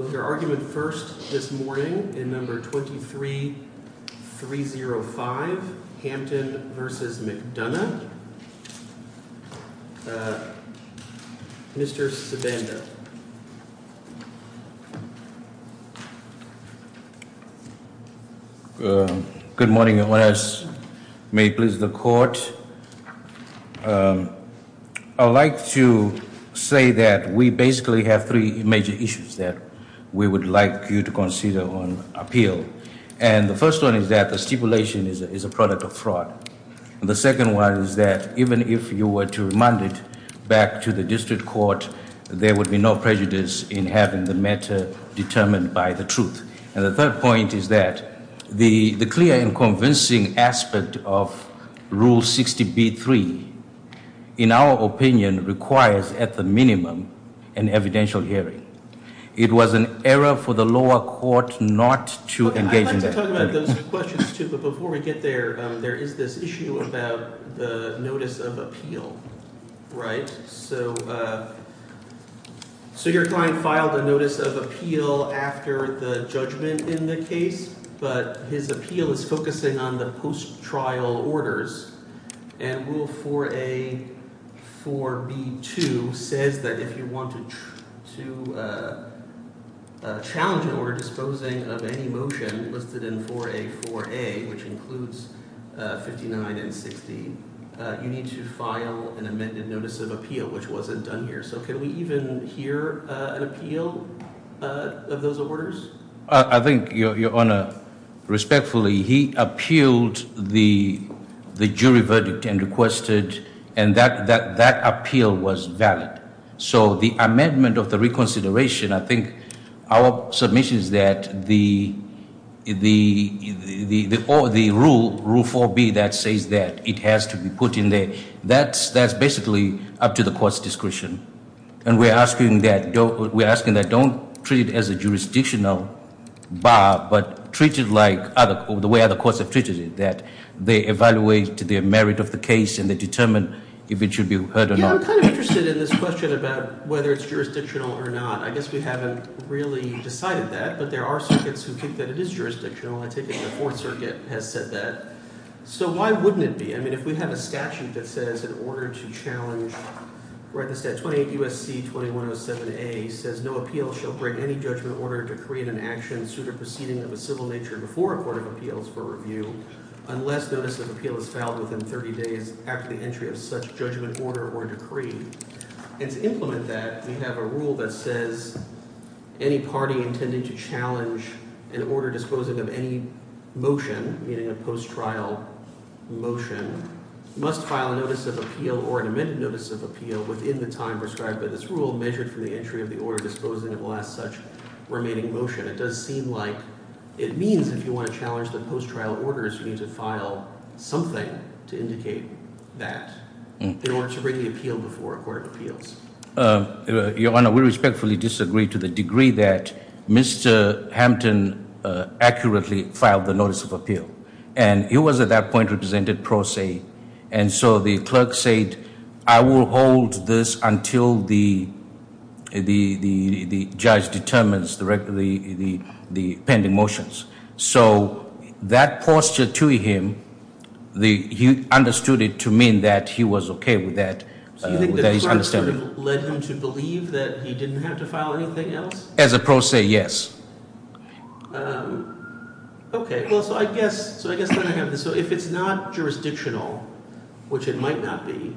was your argument first this morning in number 23305 Hampton v. McDonough. Mr. Savenda. Good morning and may it please the court. I would like to say that we basically have three major issues that we would like you to consider on appeal. And the first one is that the stipulation is a product of fraud. And the second one is that even if you were to remand it back to the district court, there would be no prejudice in having the matter determined by the truth. And the third point is that the clear and convincing aspect of Rule 60B-3, in our opinion, requires at the minimum an evidential hearing. It was an error for the lower court not to engage in that hearing. I'd like to talk about those questions too, but before we get there, there is this issue about the notice of appeal, right? So your client filed a notice of appeal after the judgment in the case, but his appeal is and Rule 4A-4B-2 says that if you want to challenge an order disposing of any motion listed in 4A-4A, which includes 59 and 60, you need to file an amended notice of appeal, which wasn't done here. So can we even hear an appeal of those orders? I think, Your Honor, respectfully, he reverted and requested, and that appeal was valid. So the amendment of the reconsideration, I think our submission is that the rule, Rule 4B, that says that it has to be put in there, that's basically up to the court's discretion. And we're asking that don't treat it as a jurisdictional bar, but treat it like the way other courts have treated it, that they evaluate to the merit of the case, and they determine if it should be heard or not. Yeah, I'm kind of interested in this question about whether it's jurisdictional or not. I guess we haven't really decided that, but there are circuits who think that it is jurisdictional. I take it the Fourth Circuit has said that. So why wouldn't it be? I mean, if we have a statute that says in order to challenge, where it says 28 U.S.C. 2107A says no appeal shall break any judgment order to create an action suit or proceeding of a civil nature before a court of appeals for review unless notice of appeal is filed within 30 days after the entry of such judgment order or decree. And to implement that, we have a rule that says any party intending to challenge an order disposing of any motion, meaning a post-trial motion, must file a notice of appeal or an amended notice of appeal within the time prescribed by this rule measured from the entry of the order disposing of the last such remaining motion. It does seem like it means if you want to challenge the post-trial orders, you need to file something to indicate that in order to bring the appeal before a court of appeals. Your Honor, we respectfully disagree to the degree that Mr. Hampton accurately filed the notice of appeal. And he was at that point represented pro se. And so the clerk said, I will hold this until the judge determines the pending motions. So that posture to him, he understood it to mean that he was okay with that. So you think the clerk sort of led him to believe that he didn't have to file anything else? As a pro se, yes. Okay. Well, so I guess, so I guess then I have this. So if it's not jurisdictional, which it might not be,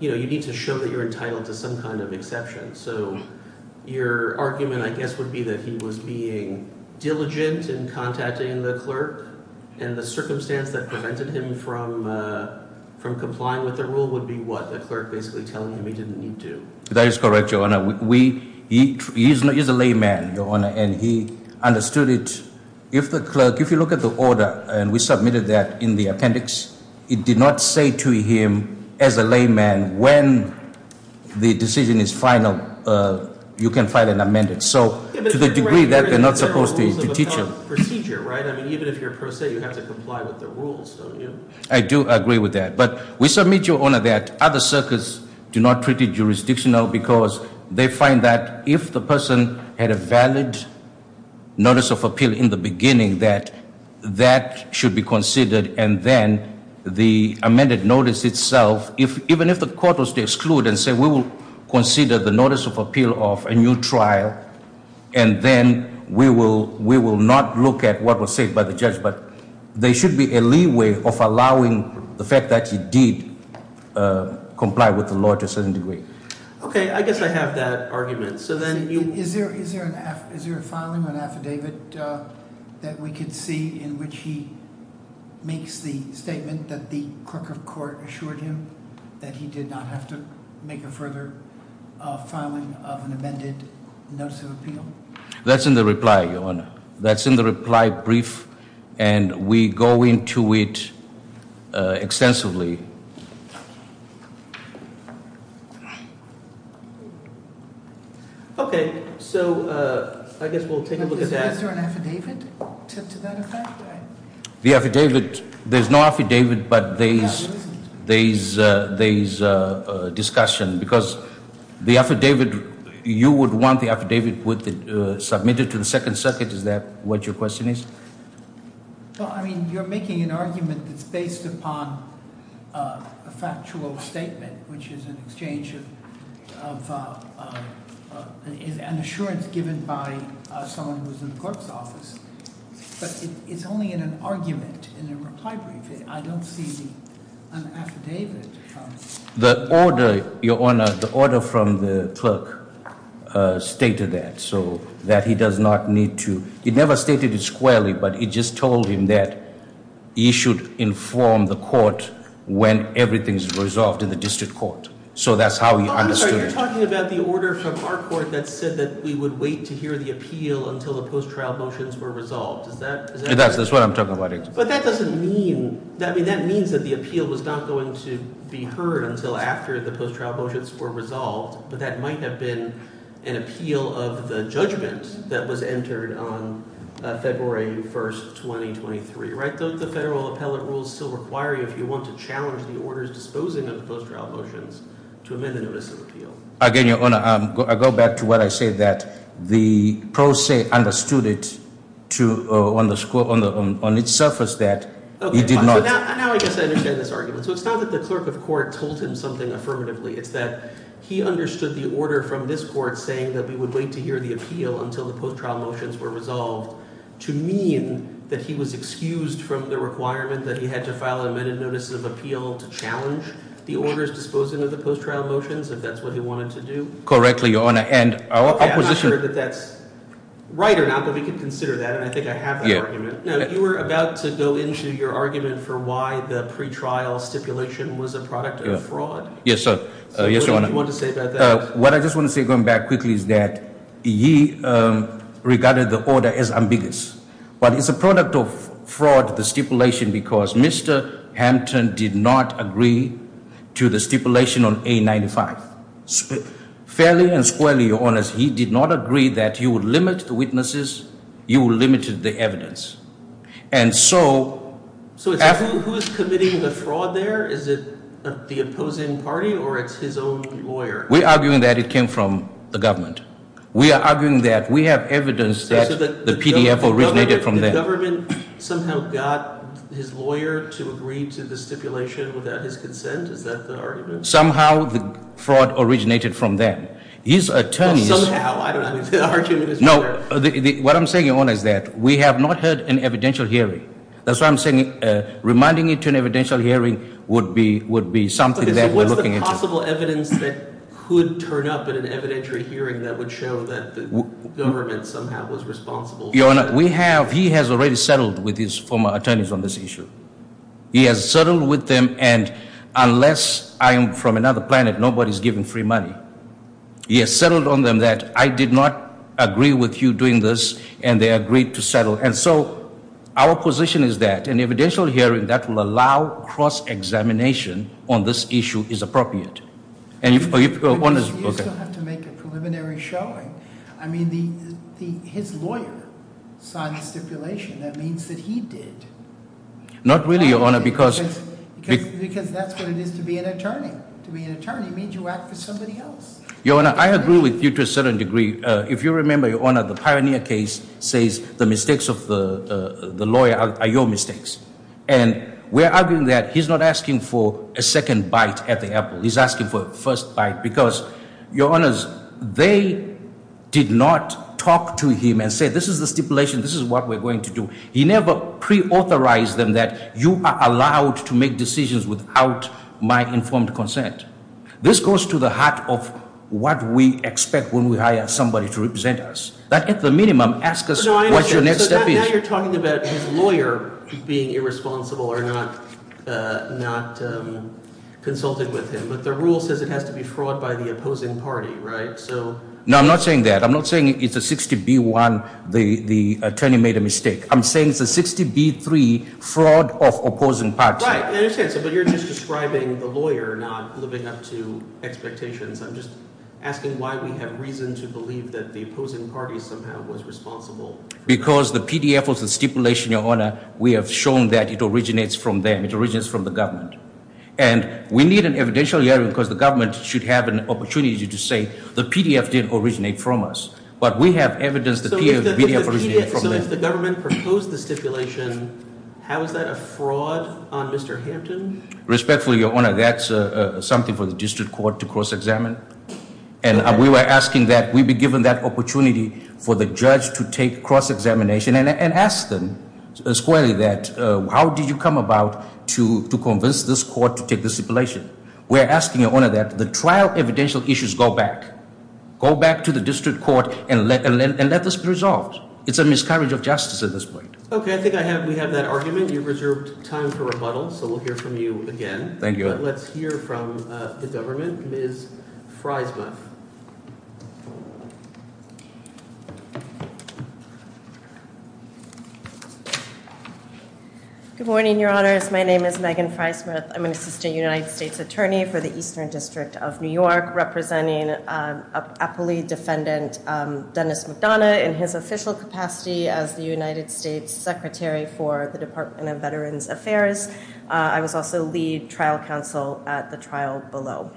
you know, you need to show that you're entitled to some kind of exception. So your argument, I guess, would be that he was being diligent in contacting the clerk and the circumstance that prevented him from complying with the rule would be what the clerk basically telling him he didn't need to. That is correct, Your Honor. He is a layman, Your Honor, and he understood it. If the clerk, if you look at the order and we submitted that in the appendix, it did not say to him as a layman, when the decision is final, you can file an amendment. So to the degree that they're not supposed to teach him. Procedure, right? I mean, even if you're a pro se, you have to comply with the rules, don't you? I do agree with that. But we submit, Your Honor, that other circuits do not treat it jurisdictional because they find that if the person had a valid notice of appeal in the beginning, that that should be considered. And then the amended notice itself, even if the court was to exclude and say, we will consider the notice of appeal of a new trial, and then we will not look at what was said by the judge. But there should be a leeway of allowing the fact that he did comply with the law to a certain degree. Okay, I guess I have that argument. So then you- Is there a filing, an affidavit that we could see in which he makes the statement that the clerk of court assured him that he did not have to make a further filing of an amended notice of appeal? That's in the reply, Your Honor. That's in the reply brief, and we go into it extensively. Okay, so I guess we'll take a look at that. Is there an affidavit to that effect? The affidavit, there's no affidavit, but there is a discussion because the affidavit, you would want the affidavit submitted to the Second Circuit, is that what your question is? Well, I mean, you're making an argument that's based upon a factual statement, which is an exchange of, is an assurance given by someone who's in the clerk's office, but it's only in an argument in a reply brief. I don't see the affidavit. The order, Your Honor, the order from the clerk stated that, so that he does not need to, he never stated it squarely, but he just told him that he should inform the court when everything is resolved in the district court. So that's how he understood it. You're talking about the order from our court that said that we would wait to hear the appeal until the post-trial motions were resolved. Is that? That's what I'm talking about. But that doesn't mean, I mean, that means that the appeal was not going to be heard until after the post-trial motions were resolved, but that might have been an appeal of the judgment that was entered on February 1st, 2023, right? Don't the federal appellate rules still require you, if you want to challenge the orders disposing of post-trial motions, to amend the notice of appeal? Again, Your Honor, I go back to what I said, that the pro se understood it to, on the score, on the, on its surface, that he did not. Now I guess I understand this argument. So it's not that the clerk of court told him something affirmatively. It's that he understood the order from this court saying that we would wait to hear the appeal until the post-trial motions were resolved, to mean that he was excused from the requirement that he had to file amended notices of appeal to challenge the orders disposing of the post-trial motions, if that's what he wanted to do? Correctly, Your Honor, and our opposition... I'm not sure that that's right or not, but we could consider that, and I think I have the argument. Now, you were about to go into your argument for why the pre-trial stipulation was a product of fraud. Yes, Your Honor. What do you want to say about that? What I just want to say, going back quickly, is that he regarded the order as ambiguous, but it's a product of fraud, the stipulation, because Mr. Hampton did not agree to the stipulation on A95. Fairly and squarely, Your Honor, he did not agree that you would limit the witnesses, you would limit the evidence, and so... So who's committing the fraud there? Is it the opposing party, or it's his own lawyer? We're arguing that it came from the government. We are arguing that we have evidence that the PDF originated from them. The government somehow got his lawyer to agree to the stipulation without his consent? Is that the argument? Somehow the fraud originated from them. His attorneys... Somehow, I don't know, the argument is... No, what I'm saying, Your Honor, is that we have not heard an evidential hearing. That's why I'm saying, reminding you to an evidential hearing would be something that we're looking into. Okay, so what's the possible evidence that could turn up in an evidentiary hearing that would show that the government somehow was responsible? Your Honor, we have, he has already settled with his former attorneys on this issue. He has settled with them, and unless I am from another planet, nobody's giving free money. He has settled on them that I did not agree with you doing this, and they agreed to settle, and so our position is that an evidential hearing that will allow cross-examination on this issue is appropriate, and if... You still have to make a preliminary showing. I mean, his lawyer signed the stipulation. That means that he did. Not really, Your Honor, because... Because that's what it is to be an attorney. To be an attorney means you act for somebody else. Your Honor, I agree with you to a certain degree. If you remember, Your Honor, the Pioneer case says the mistakes of the the lawyer are your mistakes, and we're arguing that he's not asking for a second bite at the stipulation. This is what we're going to do. He never pre-authorized them that you are allowed to make decisions without my informed consent. This goes to the heart of what we expect when we hire somebody to represent us. That, at the minimum, asks us what your next step is. Now you're talking about his lawyer being irresponsible or not consulting with him, but the rule says it has to be fraud by the opposing party, right? So... No, I'm not saying that. I'm not saying it's a 60B1 the attorney made a mistake. I'm saying it's a 60B3 fraud of opposing party. Right, I understand, but you're just describing the lawyer not living up to expectations. I'm just asking why we have reason to believe that the opposing party somehow was responsible. Because the PDF was the stipulation, Your Honor. We have shown that it originates from them. It originates from the government, and we need an evidential hearing because the government should have an opportunity to say the PDF didn't originate from us. But we have evidence that... So if the government proposed the stipulation, how is that a fraud on Mr. Hampton? Respectfully, Your Honor, that's something for the district court to cross-examine. And we were asking that we be given that opportunity for the judge to take cross-examination and ask them squarely that, how did you come about to convince this court to take the stipulation? We're asking, Your Honor, that the trial evidential issues go back. Go back to the district court and let this be resolved. It's a miscarriage of justice at this point. Okay, I think we have that argument. You've reserved time for rebuttal, so we'll hear from you again. Thank you. Let's hear from the government. Ms. Frysmuth. Good morning, Your Honors. My name is Megan Frysmuth. I'm an United States attorney for the Eastern District of New York, representing Appellee Defendant Dennis McDonough in his official capacity as the United States Secretary for the Department of Veterans Affairs. I was also lead trial counsel at the trial below.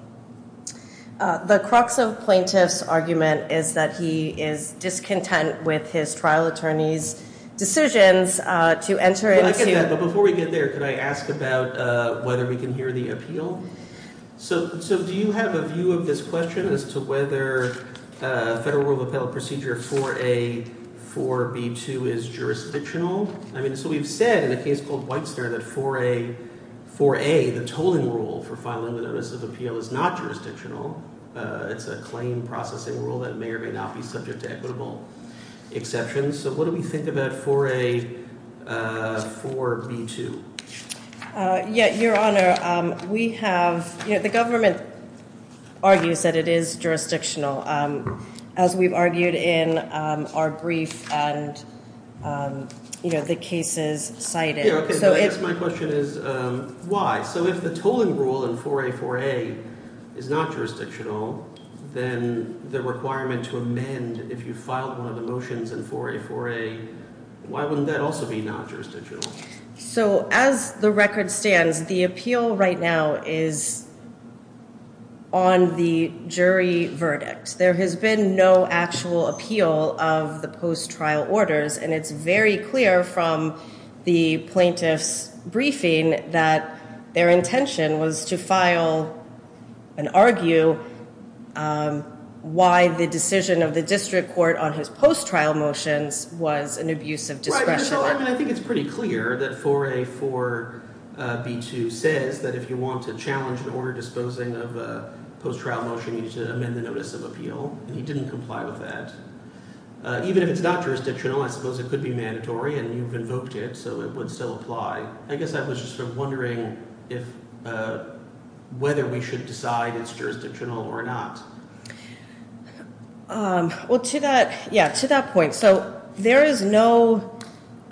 The crux of plaintiff's argument is that he is discontent with his trial attorney's decisions to enter into... Before we get there, could I ask about whether we can hear the appeal? Do you have a view of this question as to whether federal rule of appellate procedure 4A, 4B2 is jurisdictional? I mean, so we've said in a case called Whitesnare that 4A, the tolling rule for filing the notice of appeal is not jurisdictional. It's a claim processing rule that may or may not be subject to equitable exceptions. So what do we think about 4A, 4B2? Your Honor, we have... The government argues that it is jurisdictional, as we've argued in our brief and the cases cited. My question is why? So if the tolling rule in 4A, 4A is not jurisdictional, then the requirement to file one of the motions in 4A, 4A, why wouldn't that also be not jurisdictional? So as the record stands, the appeal right now is on the jury verdict. There has been no actual appeal of the post-trial orders, and it's very clear from the plaintiff's briefing that their on his post-trial motions was an abuse of discretion. I mean, I think it's pretty clear that 4A, 4B2 says that if you want to challenge the order disposing of a post-trial motion, you need to amend the notice of appeal, and he didn't comply with that. Even if it's not jurisdictional, I suppose it could be mandatory, and you've invoked it, so it would still apply. I guess I was just sort of wondering whether we should decide it's jurisdictional or not. Well, to that, yeah, to that point, so there is no,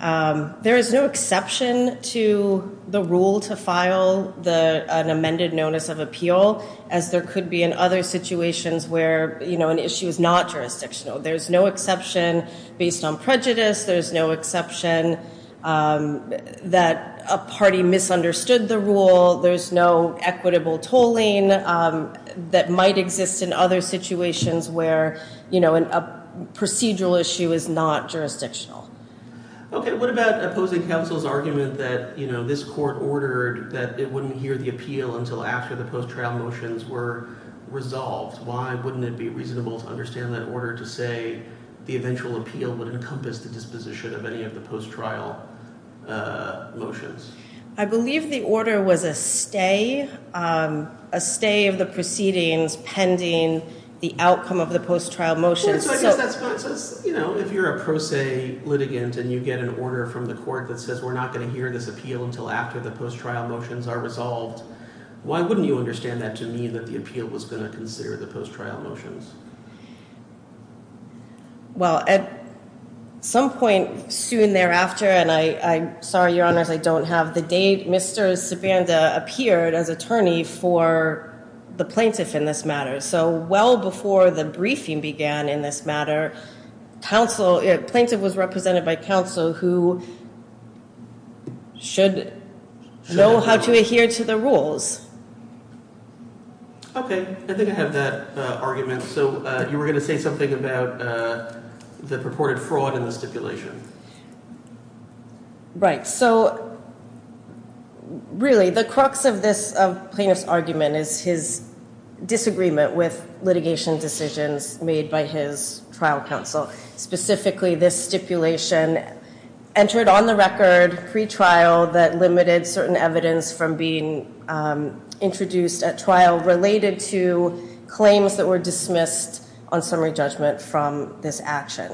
there is no exception to the rule to file the, an amended notice of appeal, as there could be in other situations where, you know, an issue is not jurisdictional. There's no exception based on prejudice. There's no exception that a party misunderstood the rule. There's no equitable tolling that might exist in a other situations where, you know, a procedural issue is not jurisdictional. Okay, what about opposing counsel's argument that, you know, this court ordered that it wouldn't hear the appeal until after the post-trial motions were resolved? Why wouldn't it be reasonable to understand that order to say the eventual appeal would encompass the disposition of any of the post-trial motions? I believe the order was a stay, a stay of the proceedings pending the outcome of the post-trial motions. You know, if you're a pro se litigant and you get an order from the court that says we're not going to hear this appeal until after the post-trial motions are resolved, why wouldn't you understand that to mean that the appeal was going to consider the post-trial motions? Well, at some point soon thereafter, and I'm sorry, Your Honors, I don't have the date, Mr. Savanda appeared as attorney for the plaintiff in this matter. So well before the briefing began in this matter, plaintiff was represented by counsel who should know how to adhere to the rules. Okay, I think I have that argument. So you were going to say something about the purported fraud in the stipulation. Right. So really the crux of this plaintiff's argument is his disagreement with litigation decisions made by his trial counsel. Specifically, this stipulation entered on the record pre-trial that limited certain evidence from being introduced at trial related to claims that were dismissed on summary judgment from this action.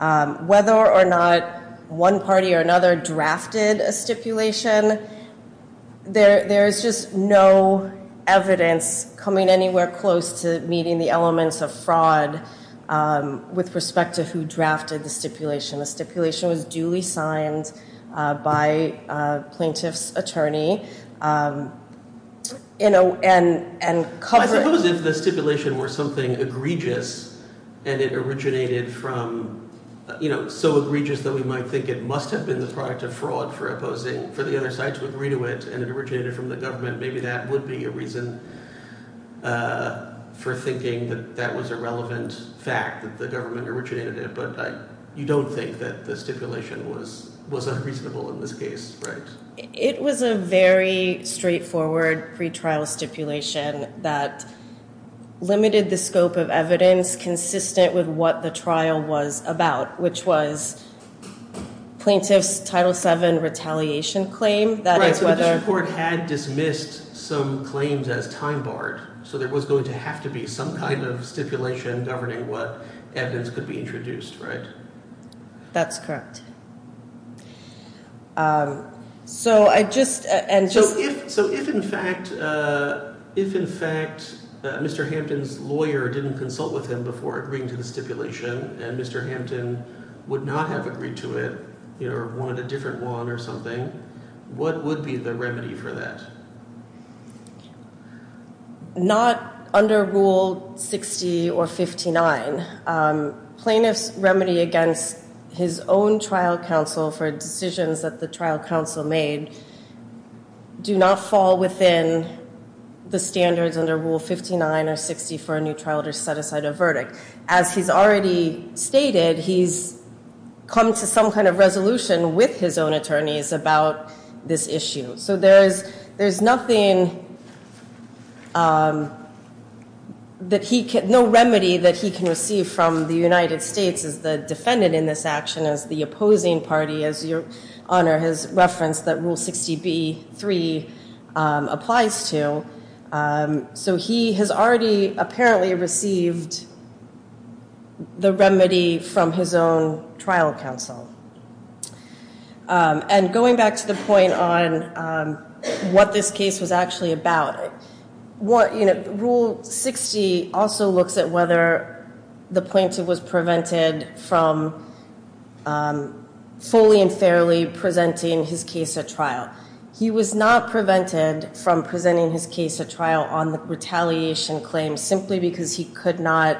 Whether or not one party or another drafted a stipulation, there's just no evidence coming anywhere close to meeting the elements of fraud with respect to who drafted the stipulation. The stipulation was duly signed by plaintiff's attorney. I suppose if the stipulation were something egregious and it originated from, you know, so egregious that we might think it must have been the product of fraud for opposing, for the other side to agree to it, and it originated from the government, maybe that would be a reason for thinking that that was a relevant fact that the government originated it. But you don't think that the stipulation was unreasonable in this case, right? It was a very straightforward pre-trial stipulation that limited the scope of evidence consistent with what the trial was about, which was plaintiff's Title VII retaliation claim. Right, so the Supreme Court had dismissed some claims as time barred, so there was going to have to be some kind of stipulation governing what evidence could be introduced, right? That's correct. So if in fact Mr. Hampton's lawyer didn't consult with him before agreeing to the stipulation, and Mr. Hampton would not have agreed to it, you know, or wanted a different one or something, what would be the remedy for that? Not under Rule 60 or 59. Plaintiff's remedy against his own trial counsel for decisions that the trial counsel made do not fall within the standards under Rule 59 or 60 for a new trial to set aside a verdict. As he's already stated, he's come to some kind of resolution with his own trial counsel. There's no remedy that he can receive from the United States as the defendant in this action, as the opposing party, as Your Honor has referenced, that Rule 60b-3 applies to. So he has already apparently received the remedy from his own trial counsel. And going back to the point on what this case was actually about, Rule 60 also looks at whether the plaintiff was prevented from fully and fairly presenting his case at trial. He was not prevented from presenting his case at trial on the retaliation claim simply because he could not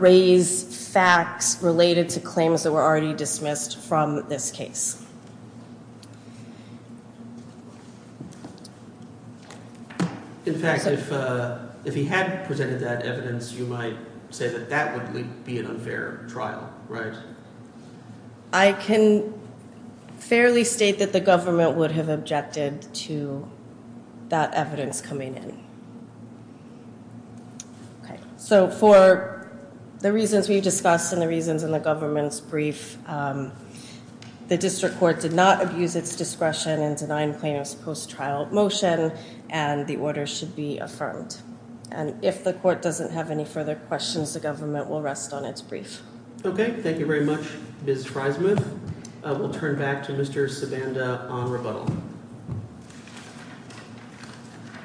raise facts related to claims that were already dismissed from this case. In fact, if he had presented that evidence, you might say that that would be an unfair trial, right? I can fairly state that the government would have objected to that evidence coming in. So for the reasons we've discussed and the reasons in the government's brief, the district court did not abuse its discretion in denying plaintiff's post-trial motion and the order should be affirmed. And if the court doesn't have any further questions, the government will rest on its brief. Okay, thank you very much, Ms. Friesman. We'll turn back to Mr. Sibanda on rebuttal.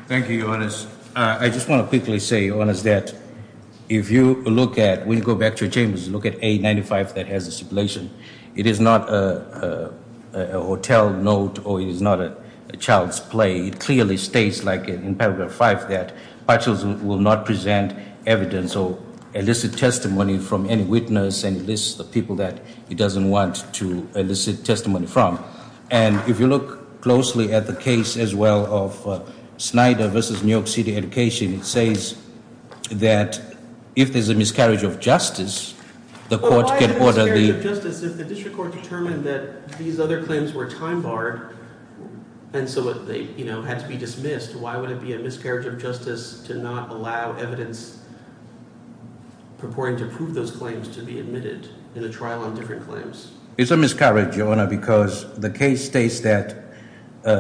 Thank you, Your Honors. I just want to quickly say, Your Honors, that if you look at, when you go back to your chambers, you look at 895 that has the stipulation, it is not a hotel note or it is not a child's play. It clearly states, like in paragraph 5, that partials will not present evidence or illicit testimony from any witness and lists the people that he doesn't want to and if you look closely at the case as well of Snyder versus New York City Education, it says that if there's a miscarriage of justice, the court can order the- Why a miscarriage of justice if the district court determined that these other claims were time barred and so they, you know, had to be dismissed, why would it be a miscarriage of justice to not allow evidence purporting to prove those claims to be admitted in a trial on different claims? It's a miscarriage, Your Honor, because the case states that,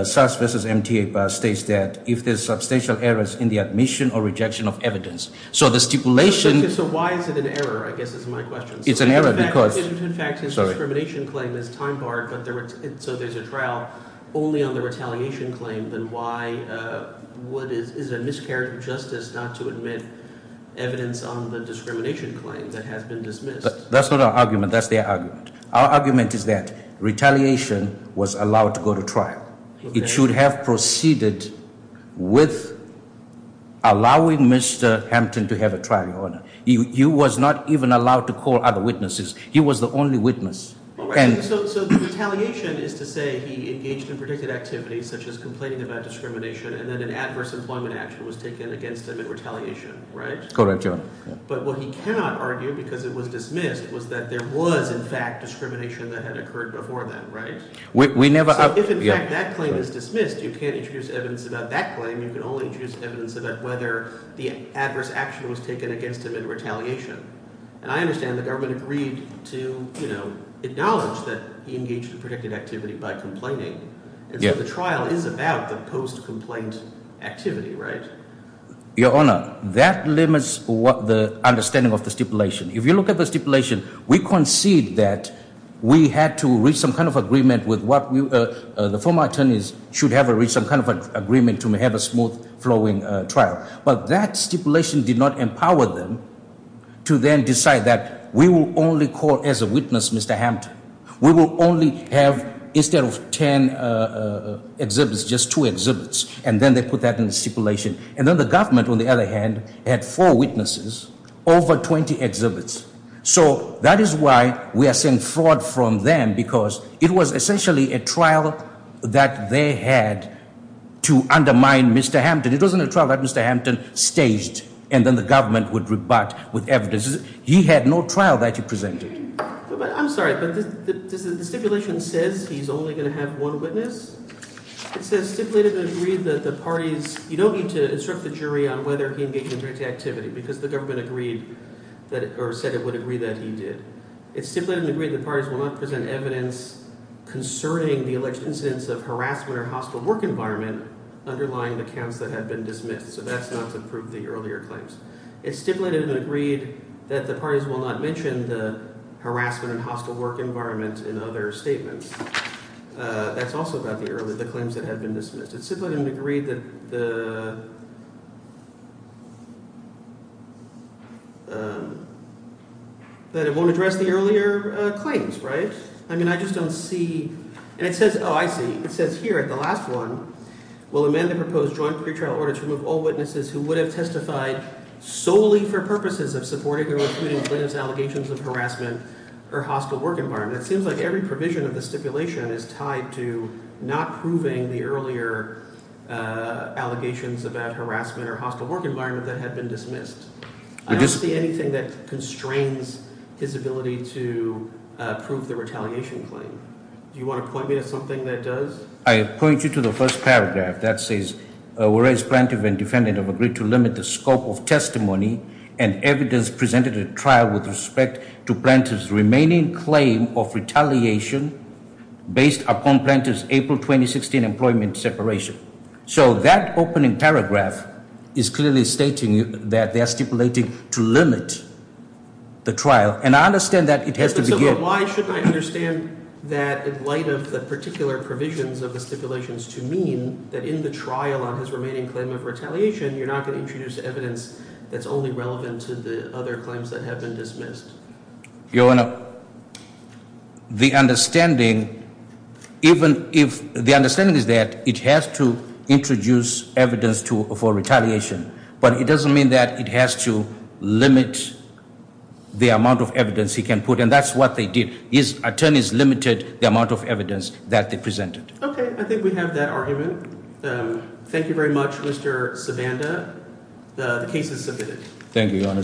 SUS versus MTA states that if there's substantial errors in the admission or rejection of evidence, so the stipulation- So why is it an error, I guess is my question. It's an error because- In fact, his discrimination claim is time barred, but there was, so there's a trial only on the retaliation claim, then why, what is, is it a miscarriage of justice not to admit evidence on the discrimination claim that has been dismissed? That's not our argument, that's their argument. Our argument is that retaliation was allowed to go to trial. It should have proceeded with allowing Mr. Hampton to have a trial, Your Honor. He was not even allowed to call other witnesses. He was the only witness. So the retaliation is to say he engaged in predicted activities such as complaining about discrimination and then an adverse employment action was taken against him in retaliation, right? Correct, Your Honor. But what he cannot argue because it was dismissed was that there was, in fact, discrimination that had occurred before that, right? We never- So if, in fact, that claim is dismissed, you can't introduce evidence about that claim. You can only introduce evidence about whether the adverse action was taken against him in retaliation. And I understand the government agreed to, you know, acknowledge that he engaged in predicted activity by complaining. And so the trial is about the post-complaint activity, right? Your Honor, that limits the understanding of the stipulation. If you look at the stipulation, we concede that we had to reach some kind of agreement with what we- the former attorneys should have reached some kind of agreement to have a smooth-flowing trial. But that stipulation did not empower them to then decide that we will only call as a witness Mr. Hampton. We will only have, instead of 10 exhibits, just two exhibits. And then they put that in the stipulation. And then the government, on the other hand, had four witnesses, over 20 exhibits. So that is why we are saying fraud from them because it was essentially a trial that they had to undermine Mr. Hampton. It wasn't a trial that Mr. Hampton staged and then the government would rebut with evidence. He had no trial that he presented. I'm sorry, but the stipulation says he's only going to have one witness. It says stipulated and agreed that the parties- you don't need to instruct the jury on whether he engaged in dirty activity because the government agreed that- or said it would agree that he did. It stipulated and agreed that parties will not present evidence concerning the alleged incidents of harassment or hostile work environment underlying the counts that have been dismissed. So that's not to prove the earlier claims. It stipulated and agreed that the parties will not mention the harassment and hostile work environment in other statements. That's also about the earlier- the claims that have been dismissed. It stipulated and agreed that the- that it won't address the earlier claims, right? I mean, I just don't see- and it says- oh, I see. It says here at the last one, will amend the proposed joint pretrial order to remove all witnesses who would have testified solely for purposes of supporting or including witness allegations of harassment or hostile work environment. It seems like every provision of the stipulation is tied to not proving the earlier allegations about harassment or hostile work environment that had been dismissed. I don't see anything that constrains his ability to prove the retaliation claim. Do you want to point me to something that does? I point you to the first paragraph that says, whereas Plaintiff and Defendant have agreed to limit the scope of testimony and evidence presented at trial with respect to Plaintiff's remaining claim of retaliation based upon Plaintiff's April 2016 employment separation. So that opening paragraph is clearly stating that they are stipulating to limit the trial. And I understand that it has to be- So why should I understand that in light of the particular provisions of the stipulations to mean that in the trial on his remaining claim of retaliation, you're not going to introduce evidence that's only relevant to the other claims that have been dismissed? Your Honor, the understanding is that it has to introduce evidence for retaliation, but it doesn't mean that it has to limit the amount of evidence he can put. And that's what they did. His attorneys limited the amount of evidence that they presented. Okay, I think we have that argument. Thank you very much, Mr. Savanda. The case is submitted. Thank you, Your Honor.